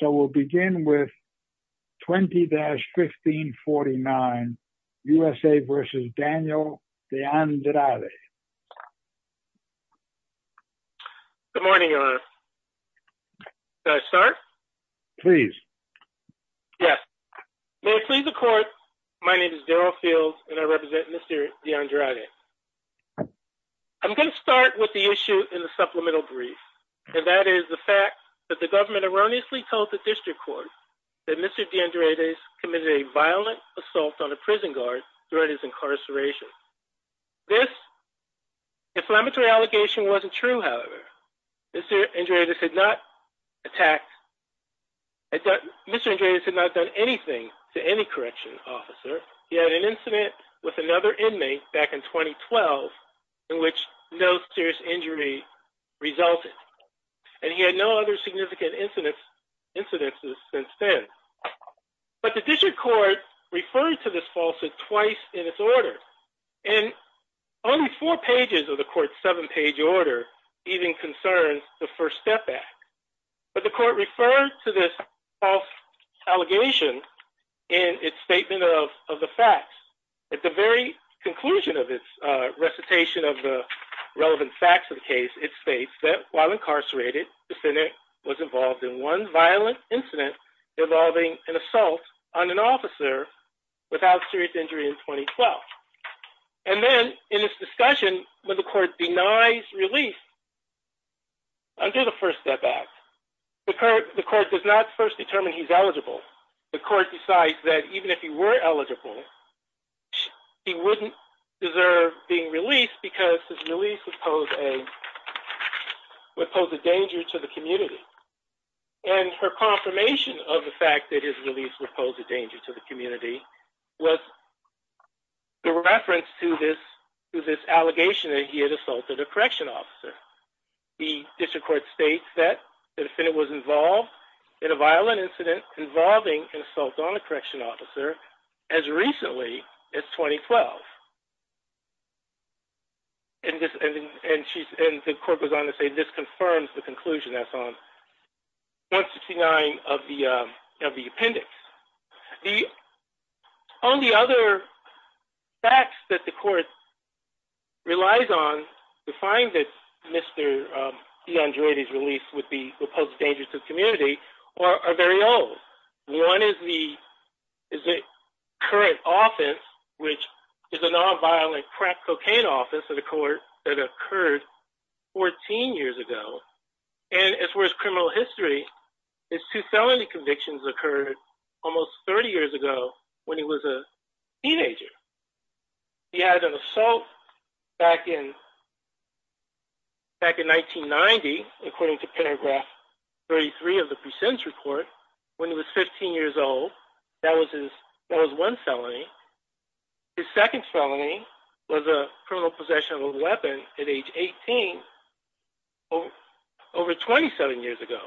So we'll begin with 20-1549, U.S.A. v. Daniel Deandrade. Good morning, Your Honor. Can I start? Please. Yes. May it please the Court, my name is Daryl Fields, and I represent Mr. Deandrade. I'm going to start with the issue in the supplemental brief, and that is the fact that the government erroneously told the District Court that Mr. Deandrade committed a violent assault on a prison guard during his incarceration. This inflammatory allegation wasn't true, however. Mr. Deandrade had not attacked, Mr. Deandrade had not done anything to any corrections officer. He had an incident with another inmate back in 2012 in which no serious injury resulted, and he had no other significant incidences since then. But the District Court referred to this falsehood twice in its order, and only four pages of the Court's seven-page order even concerns the First Step Act. But the Court referred to this false allegation in its statement of the facts. At the very conclusion of its recitation of the relevant facts of the case, it states that while incarcerated, the defendant was involved in one violent incident involving an assault on an officer without serious injury in 2012. And then in this discussion, when the Court denies release under the First Step Act, the Court does not first determine he's eligible. The Court decides that even if he were eligible, he wouldn't deserve being released because his release would pose a danger to the community. And her confirmation of the fact that his release would pose a danger to the community was the reference to this allegation that he had assaulted a correction officer. The District Court states that the defendant was involved in a violent incident involving an assault on a correction officer as recently as 2012. And the Court goes on to say this confirms the conclusion that's on 169 of the appendix. The only other facts that the Court relies on to find that Mr. DeAndreides released would pose a danger to the community are very old. One is the current offense, which is a non-violent crack cocaine offense at a court that occurred 14 years ago. And as far as criminal history, his two felony convictions occurred almost 30 years ago when he was a teenager. He had an assault back in 1990, according to paragraph 33 of the precinct report, when he was 15 years old. That was one felony. His second felony was a criminal possession of a weapon at age 18 over 27 years ago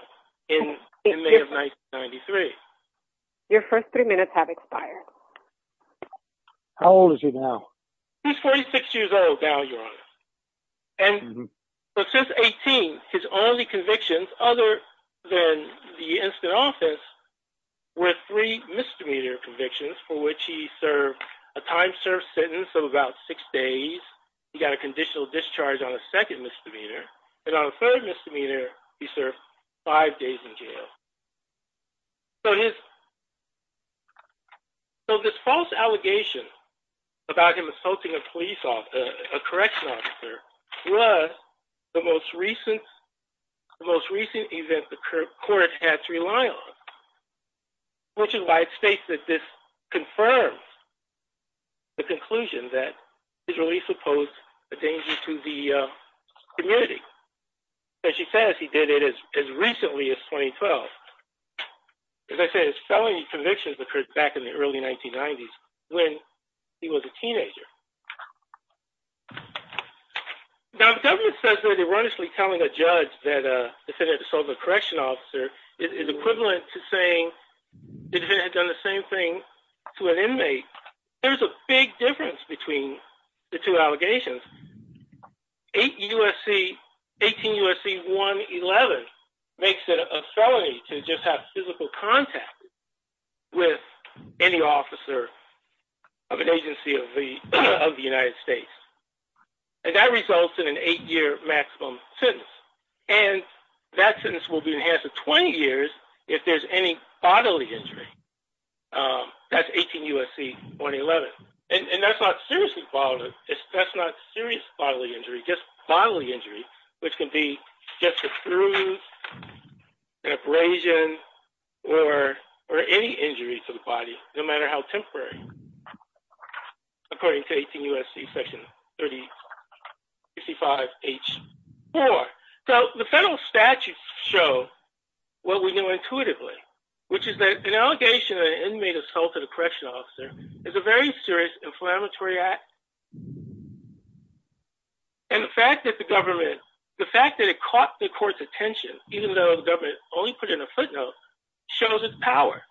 in May of 1993. Your first three minutes have expired. How old is he now? He's 46 years old now, Your Honor. And since 18, his only convictions, other than the instant offense, were three misdemeanor convictions for which he served a time-served sentence of about six days, he got a conditional discharge on a second misdemeanor, and on a third misdemeanor, he was released on parole. So this false allegation about him assaulting a police officer, a correction officer, was the most recent event the court had to rely on, which is why it states that this confirms the conclusion that his release would pose a danger to the community. As she says, he did it as recently as 2012. As I said, his felony convictions occurred back in the early 1990s when he was a teenager. Now, the government says that erroneously telling a judge that a defendant assaulted a correction officer is equivalent to saying the defendant had done the same thing to an inmate. There's a big difference between the two allegations. Eight USC, 18 USC 111 makes it a felony to just have physical contact with any officer of an agency of the United States. And that results in an eight-year maximum sentence. And that sentence will be enhanced to 20 years if there's any bodily injury. That's 18 USC 111. And that's not seriously bodily. That's not serious bodily injury, just bodily injury, which can be just a bruise, an abrasion, or any injury to the body, no matter how temporary, according to 18 USC section 35H4. So the federal statutes show what we know intuitively, which is that an allegation that an inmate assaulted a correction officer is a very serious inflammatory act, and the fact that the government, the fact that it caught the court's attention, even though the government only put in a footnote, shows its power,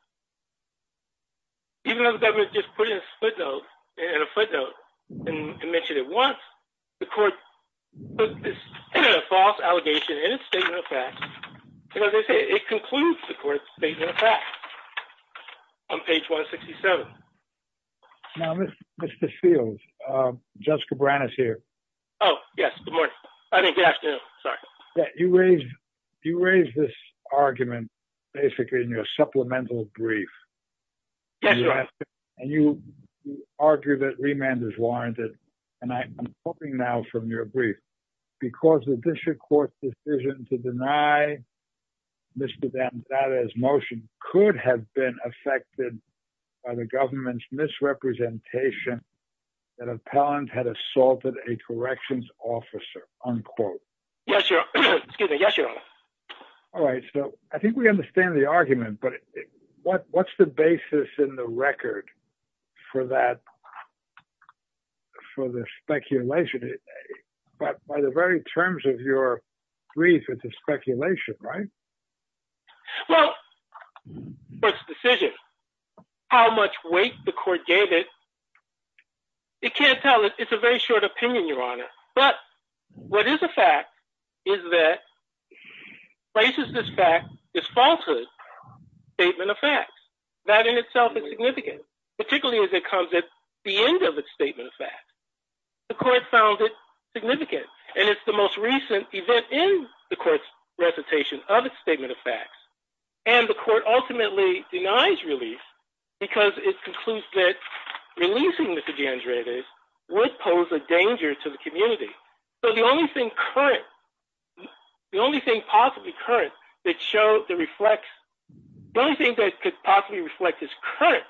even though the government just put in a footnote and mentioned it once, the court put this false allegation in its statement of facts, and as I say, it concludes the court's statement of facts on page 167. Now, Mr. Fields, Judge Cabrera is here. Oh, yes. Good morning. I mean, good afternoon. Sorry. Yeah. You raised, you raised this argument basically in your supplemental brief. And you argue that remand is warranted. And I'm hoping now from your brief, because the district court decision to deny Mr. has been affected by the government's misrepresentation that appellant had assaulted a corrections officer, unquote. Yes, sir. Excuse me. Yes, sir. All right. So I think we understand the argument, but what, what's the basis in the record for that, for the speculation, but by the very terms of your brief, it's a speculation, right? Well, the court's decision, how much weight the court gave it, it can't tell. It's a very short opinion, Your Honor. But what is a fact is that places this fact, this falsehood statement of facts, that in itself is significant, particularly as it comes at the end of its statement of facts, the court found it significant. And it's the most recent event in the court's recitation of its statement of facts, and the court ultimately denies relief because it concludes that releasing Mr. DeAndres would pose a danger to the community. So the only thing current, the only thing possibly current that show the reflects, the only thing that could possibly reflect this current,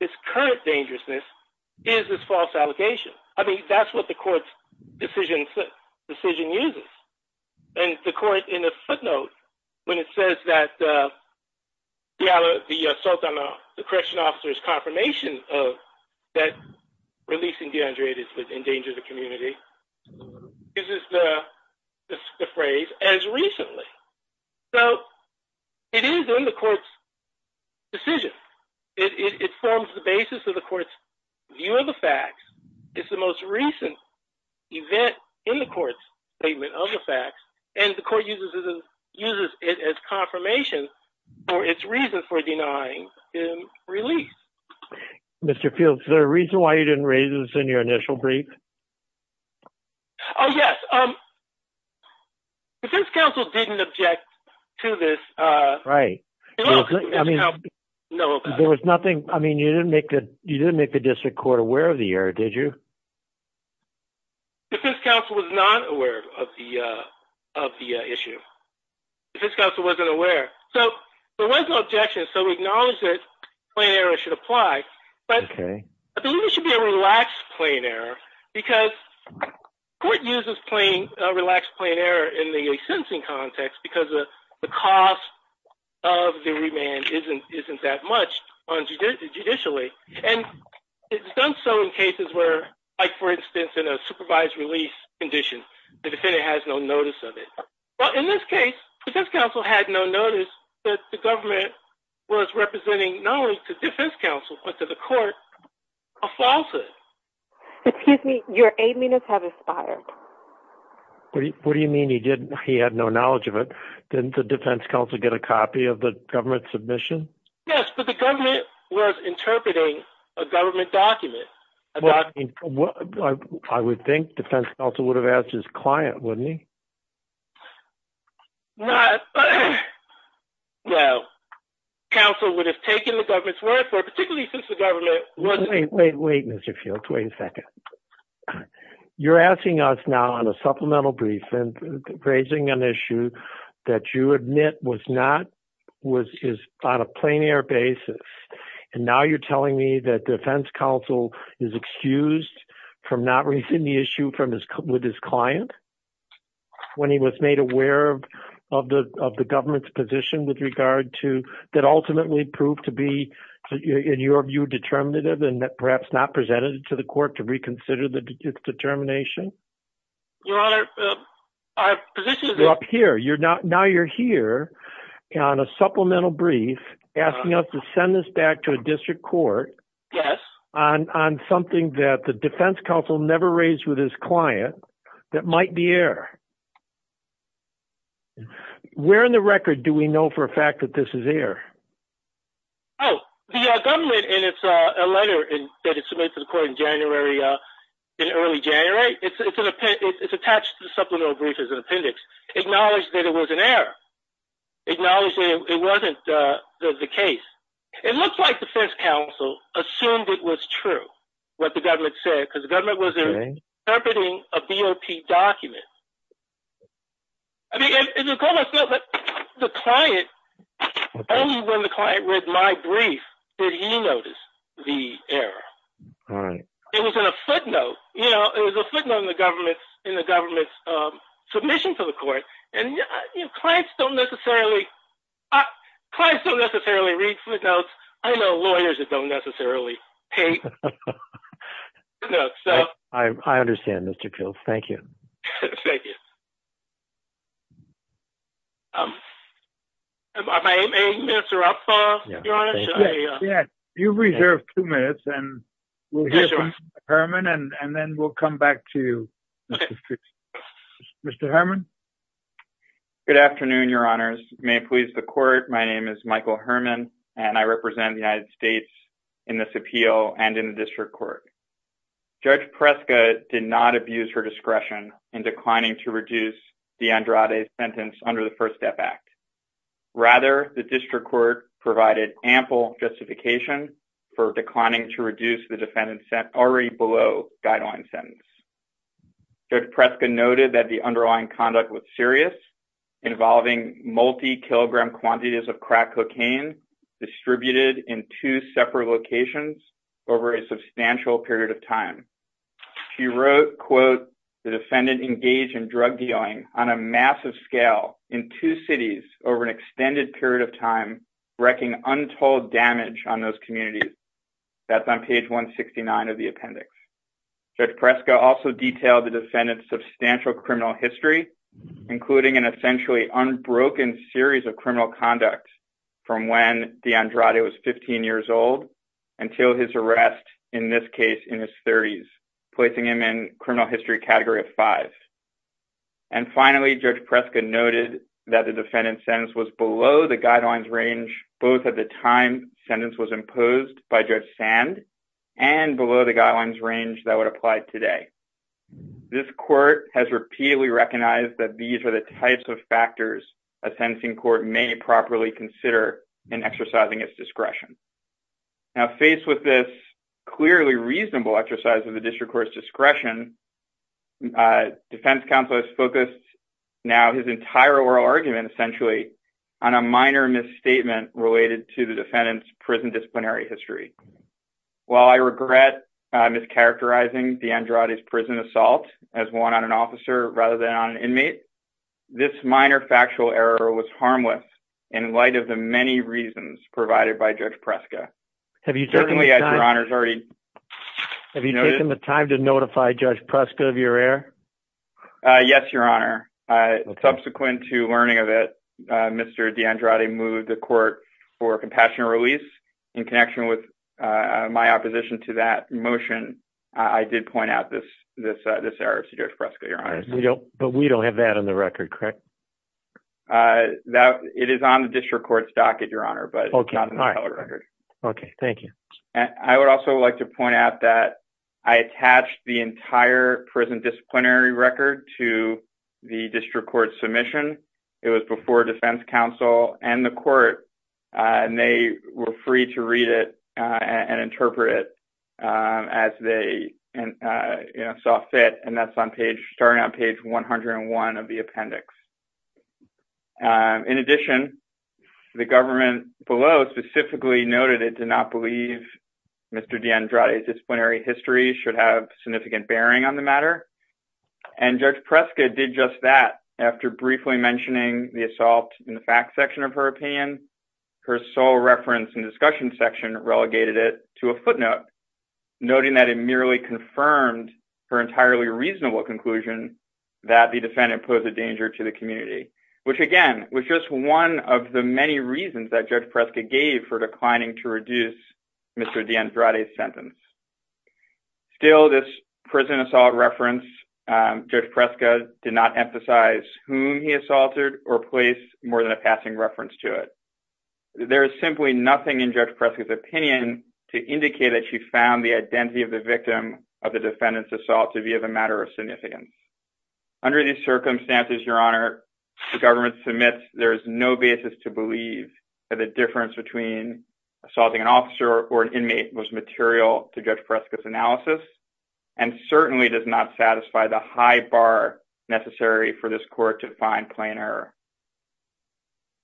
this current dangerousness is this false allegation. I mean, that's what the court's decision, decision uses. And the court in a footnote, when it says that the assault on the correction officer's confirmation of that releasing DeAndres would endanger the community, this is the phrase as recently. So it is in the court's decision. It forms the basis of the court's view of the facts. It's the most recent event in the court's statement of the facts and the court uses it as confirmation for its reason for denying him release. Mr. Fields, the reason why you didn't raise this in your initial brief? Oh, yes. Um, defense counsel didn't object to this. Uh, right. I mean, there was nothing. I mean, you didn't make the, you didn't make the district court aware of the error. Did you? Defense counsel was not aware of the, uh, of the issue. Defense counsel wasn't aware. So there was no objection. So we acknowledge that plain error should apply, but I think it should be a relaxed plain error because court uses plain, a relaxed plain error in the sentencing context because the cost of the remand isn't, isn't that much on judicially. And it's done. So in cases where, like for instance, in a supervised release condition, the defendant has no notice of it. Well, in this case, defense counsel had no notice that the government was representing knowledge to defense counsel, but to the court, a falsehood. Excuse me, your eight minutes have expired. What do you, what do you mean? He didn't, he had no knowledge of it. Didn't the defense counsel get a copy of the government submission? Yes. But the government was interpreting a government document. Well, I would think defense counsel would have asked his client. Wouldn't he? Not well, counsel would have taken the government's word for it, particularly since the government wasn't, wait, wait, wait, Mr. Fields, wait a second. You're asking us now on a supplemental brief and raising an issue that you admit was not, was, is on a plein air basis. And now you're telling me that defense counsel is excused from not raising the issue from his, with his client. When he was made aware of, of the, of the government's position with regard to that ultimately proved to be in your view, determinative and perhaps not presented to the court to reconsider the determination, your honor. I have positions up here. You're not, now you're here on a supplemental brief asking us to send this back to a district court on, on something that the defense counsel never raised with his client that might be air where in the record, do we know for a fact that this is air? Oh, the government. And it's a letter that is submitted to the court in January, uh, in early January, it's, it's an appendix, it's attached to the supplemental brief as an appendix acknowledged that it was an air acknowledging it wasn't the case. It looks like defense counsel assumed it was true what the government said. Cause the government was interpreting a BOP document. I mean, the client, only when the client read my brief, did he notice the error? It was in a footnote, you know, it was a footnote in the government, in the government's, um, submission to the court and clients don't necessarily. Clients don't necessarily read footnotes. I know lawyers that don't necessarily pay. I understand. Mr. Kills. Thank you. Thank you. Um, I may interrupt, uh, you've reserved two minutes and Herman, and then we'll come back to Mr. Herman. Good afternoon. Your honors may please the court. My name is Michael Herman and I represent the United States in this appeal and in the district court. Judge Prescott did not abuse her discretion in declining to reduce the Andrade sentence under the first step act. Rather the district court provided ample justification for declining to reduce the defendant sent already below guideline sentence. Judge Prescott noted that the underlying conduct was serious involving multi kilogram quantities of crack cocaine distributed in two separate locations over a substantial period of time. She wrote quote, the defendant engaged in drug dealing on a massive scale in two cities over an extended period of time, wrecking untold damage on those communities. That's on page 169 of the appendix. Judge Prescott also detailed the defendant's substantial criminal history, including an essentially unbroken series of criminal conduct from when the Andrade was 15 years old until his arrest in this case in his 30s, placing him in criminal history category of five. And finally, Judge Prescott noted that the defendant's sentence was below the guidelines range both at the time sentence was imposed by Judge Sand and below the guidelines range that would apply today. This court has repeatedly recognized that these are the types of factors a Now, faced with this clearly reasonable exercise of the district court's discretion, defense counsel has focused now his entire oral argument essentially on a minor misstatement related to the defendant's prison disciplinary history. While I regret mischaracterizing the Andrade's prison assault as one on an officer rather than on an inmate, this minor factual error was harmless in light of the many reasons provided by Judge Prescott. Have you taken the time to notify Judge Prescott of your error? Yes, Your Honor. Subsequent to learning of it, Mr. DeAndrade moved the court for a compassionate release in connection with my opposition to that motion. I did point out this error to Judge Prescott, Your Honor. But we don't have that on the record, correct? Uh, that it is on the district court's docket, Your Honor, but not on the record. Okay. Thank you. And I would also like to point out that I attached the entire prison disciplinary record to the district court submission. It was before defense counsel and the court and they were free to read it and interpret it as they saw fit. And that's on page starting on page 101 of the appendix. Um, in addition, the government below specifically noted it did not believe Mr. DeAndrade's disciplinary history should have significant bearing on the matter. And Judge Prescott did just that. After briefly mentioning the assault in the fact section of her opinion, her sole reference and discussion section relegated it to a footnote, noting that it merely confirmed her entirely reasonable conclusion that the defendant posed a danger to the community, which again, was just one of the many reasons that Judge Prescott gave for declining to reduce Mr. DeAndrade's sentence. Still, this prison assault reference, Judge Prescott did not emphasize whom he assaulted or place more than a passing reference to it. There is simply nothing in Judge Prescott's opinion to indicate that she found the identity of the victim of the defendant's assault to be of a matter of significance. Under these circumstances, Your Honor, the government submits there is no basis to believe that the difference between assaulting an officer or an inmate was material to Judge Prescott's analysis and certainly does not satisfy the high bar necessary for this court to find plain error.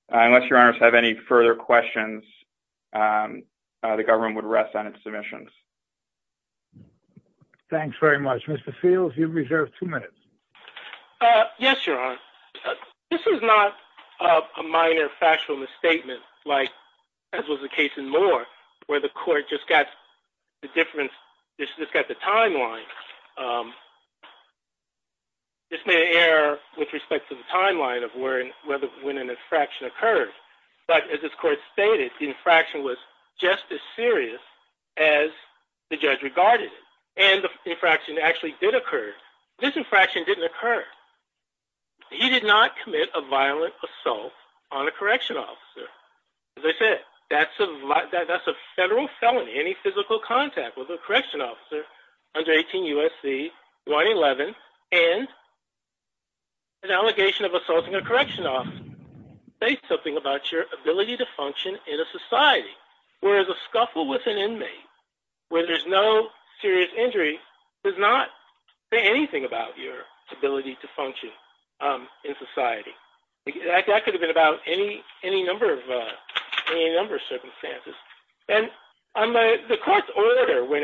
Unless Your Honors have any further questions, the government would rest on its submissions. Thanks very much. Mr. Fields, you have reserved two minutes. Yes, Your Honor. This is not a minor factual misstatement, as was the case in Moore, where the court just got the difference, just got the timeline, just made an error with respect to the timeline of when an infraction occurred. But as this court stated, the infraction was just as serious as the judge regarded it, and the infraction actually did occur. This infraction didn't occur. He did not commit a violent assault on a correctional officer. As I said, that's a federal felony, any physical contact with a correctional officer under 18 U.S.C. 111 and an allegation of assaulting a correctional officer. Say something about your ability to function in a society where there's a scuffle with an inmate, where there's no serious injury, does not say anything about your ability to function in society. That could have been about any number of circumstances. The court's order, when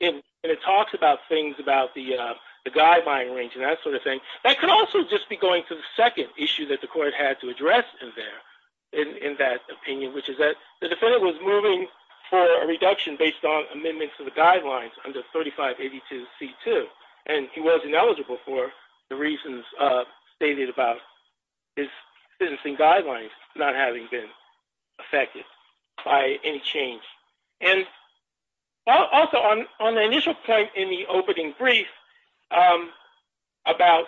it talks about things about the guideline range and that sort of thing, there's a point that I had to address in that opinion, which is that the defendant was moving for a reduction based on amendments to the guidelines under 3582C2, and he was ineligible for the reasons stated about his sentencing guidelines not having been affected by any change. And also, on the initial point in the opening brief about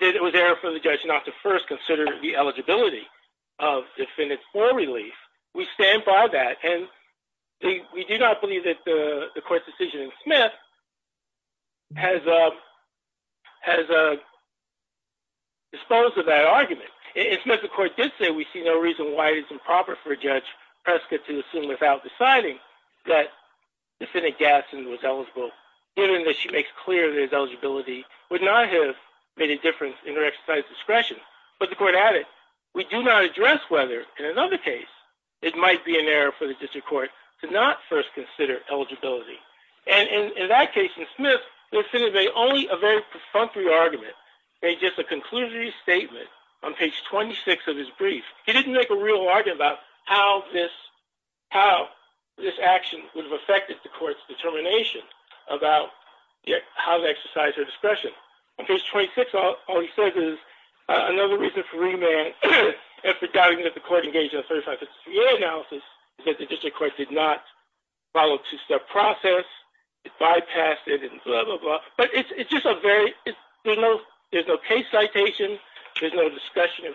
did it was error for the judge not to first consider the eligibility of the defendant's oral relief, we stand by that. And we do not believe that the court's decision in Smith has disposed of that argument. In Smith, the court did say we see no reason why it is improper for Judge Prescott to assume without deciding that defendant Gadsden was eligible, given that she makes clear that the defendant's eligibility would not have made a difference in her exercise discretion. But the court added, we do not address whether, in another case, it might be an error for the district court to not first consider eligibility. And in that case, in Smith, the defendant made only a very perfunctory argument. Made just a conclusory statement on page 26 of his brief. He didn't make a real argument about how this action would have affected the court's determination about how to exercise her discretion. On page 26, all he says is, another reason for remand, and for doubting that the court engaged in a 35-53A analysis, is that the district court did not follow a two-step process. It bypassed it, and blah, blah, blah. But it's just a very, there's no case citation. There's no discussion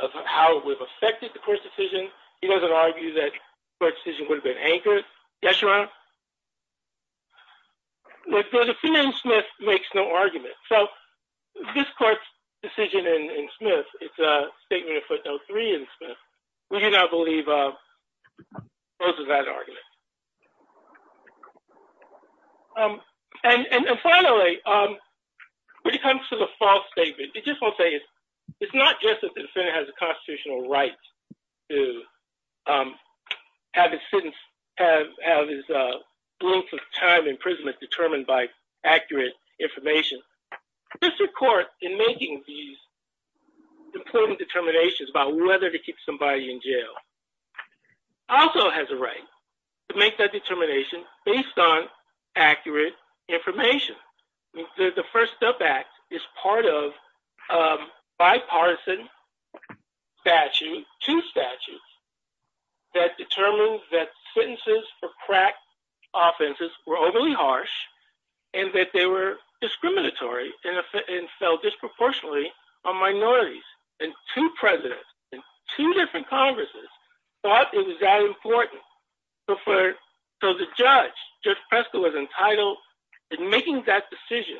of how it would have affected the court's decision. He doesn't argue that the court's decision would have been anchored. Yes, Your Honor? The defendant in Smith makes no argument. So, this court's decision in Smith, it's a statement of footnote 3 in Smith, we do not believe opposes that argument. And finally, when it comes to the false statement, it just won't say, it's not just that the time imprisonment is determined by accurate information. The district court, in making these determinations about whether to keep somebody in jail, also has a right to make that determination based on accurate information. The First Step Act is part of a bipartisan statute, two statutes, that determine that the charges were overly harsh, and that they were discriminatory, and fell disproportionately on minorities. And two presidents, in two different Congresses, thought it was that important. So the judge, Judge Prescott, was entitled, in making that decision,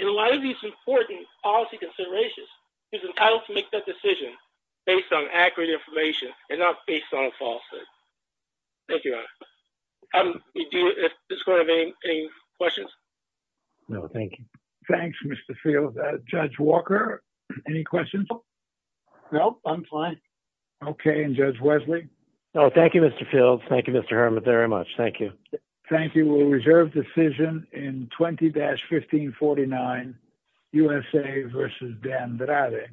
in a lot of these important policy considerations, he was entitled to make that decision based on accurate information, Thank you, Your Honor. Do you have any questions? No, thank you. Thanks, Mr. Fields. Judge Walker, any questions? No, I'm fine. Okay, and Judge Wesley? No, thank you, Mr. Fields. Thank you, Mr. Herman, very much. Thank you. Thank you. We'll reserve decision in 20-1549, USA v. Dan Bradek.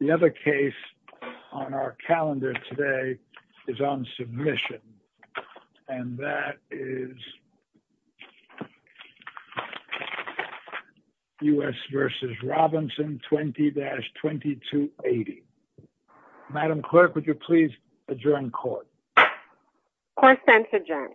The other case on our calendar today is on submission. And that is U.S. v. Robinson, 20-2280. Madam Clerk, would you please adjourn court? Court is adjourned.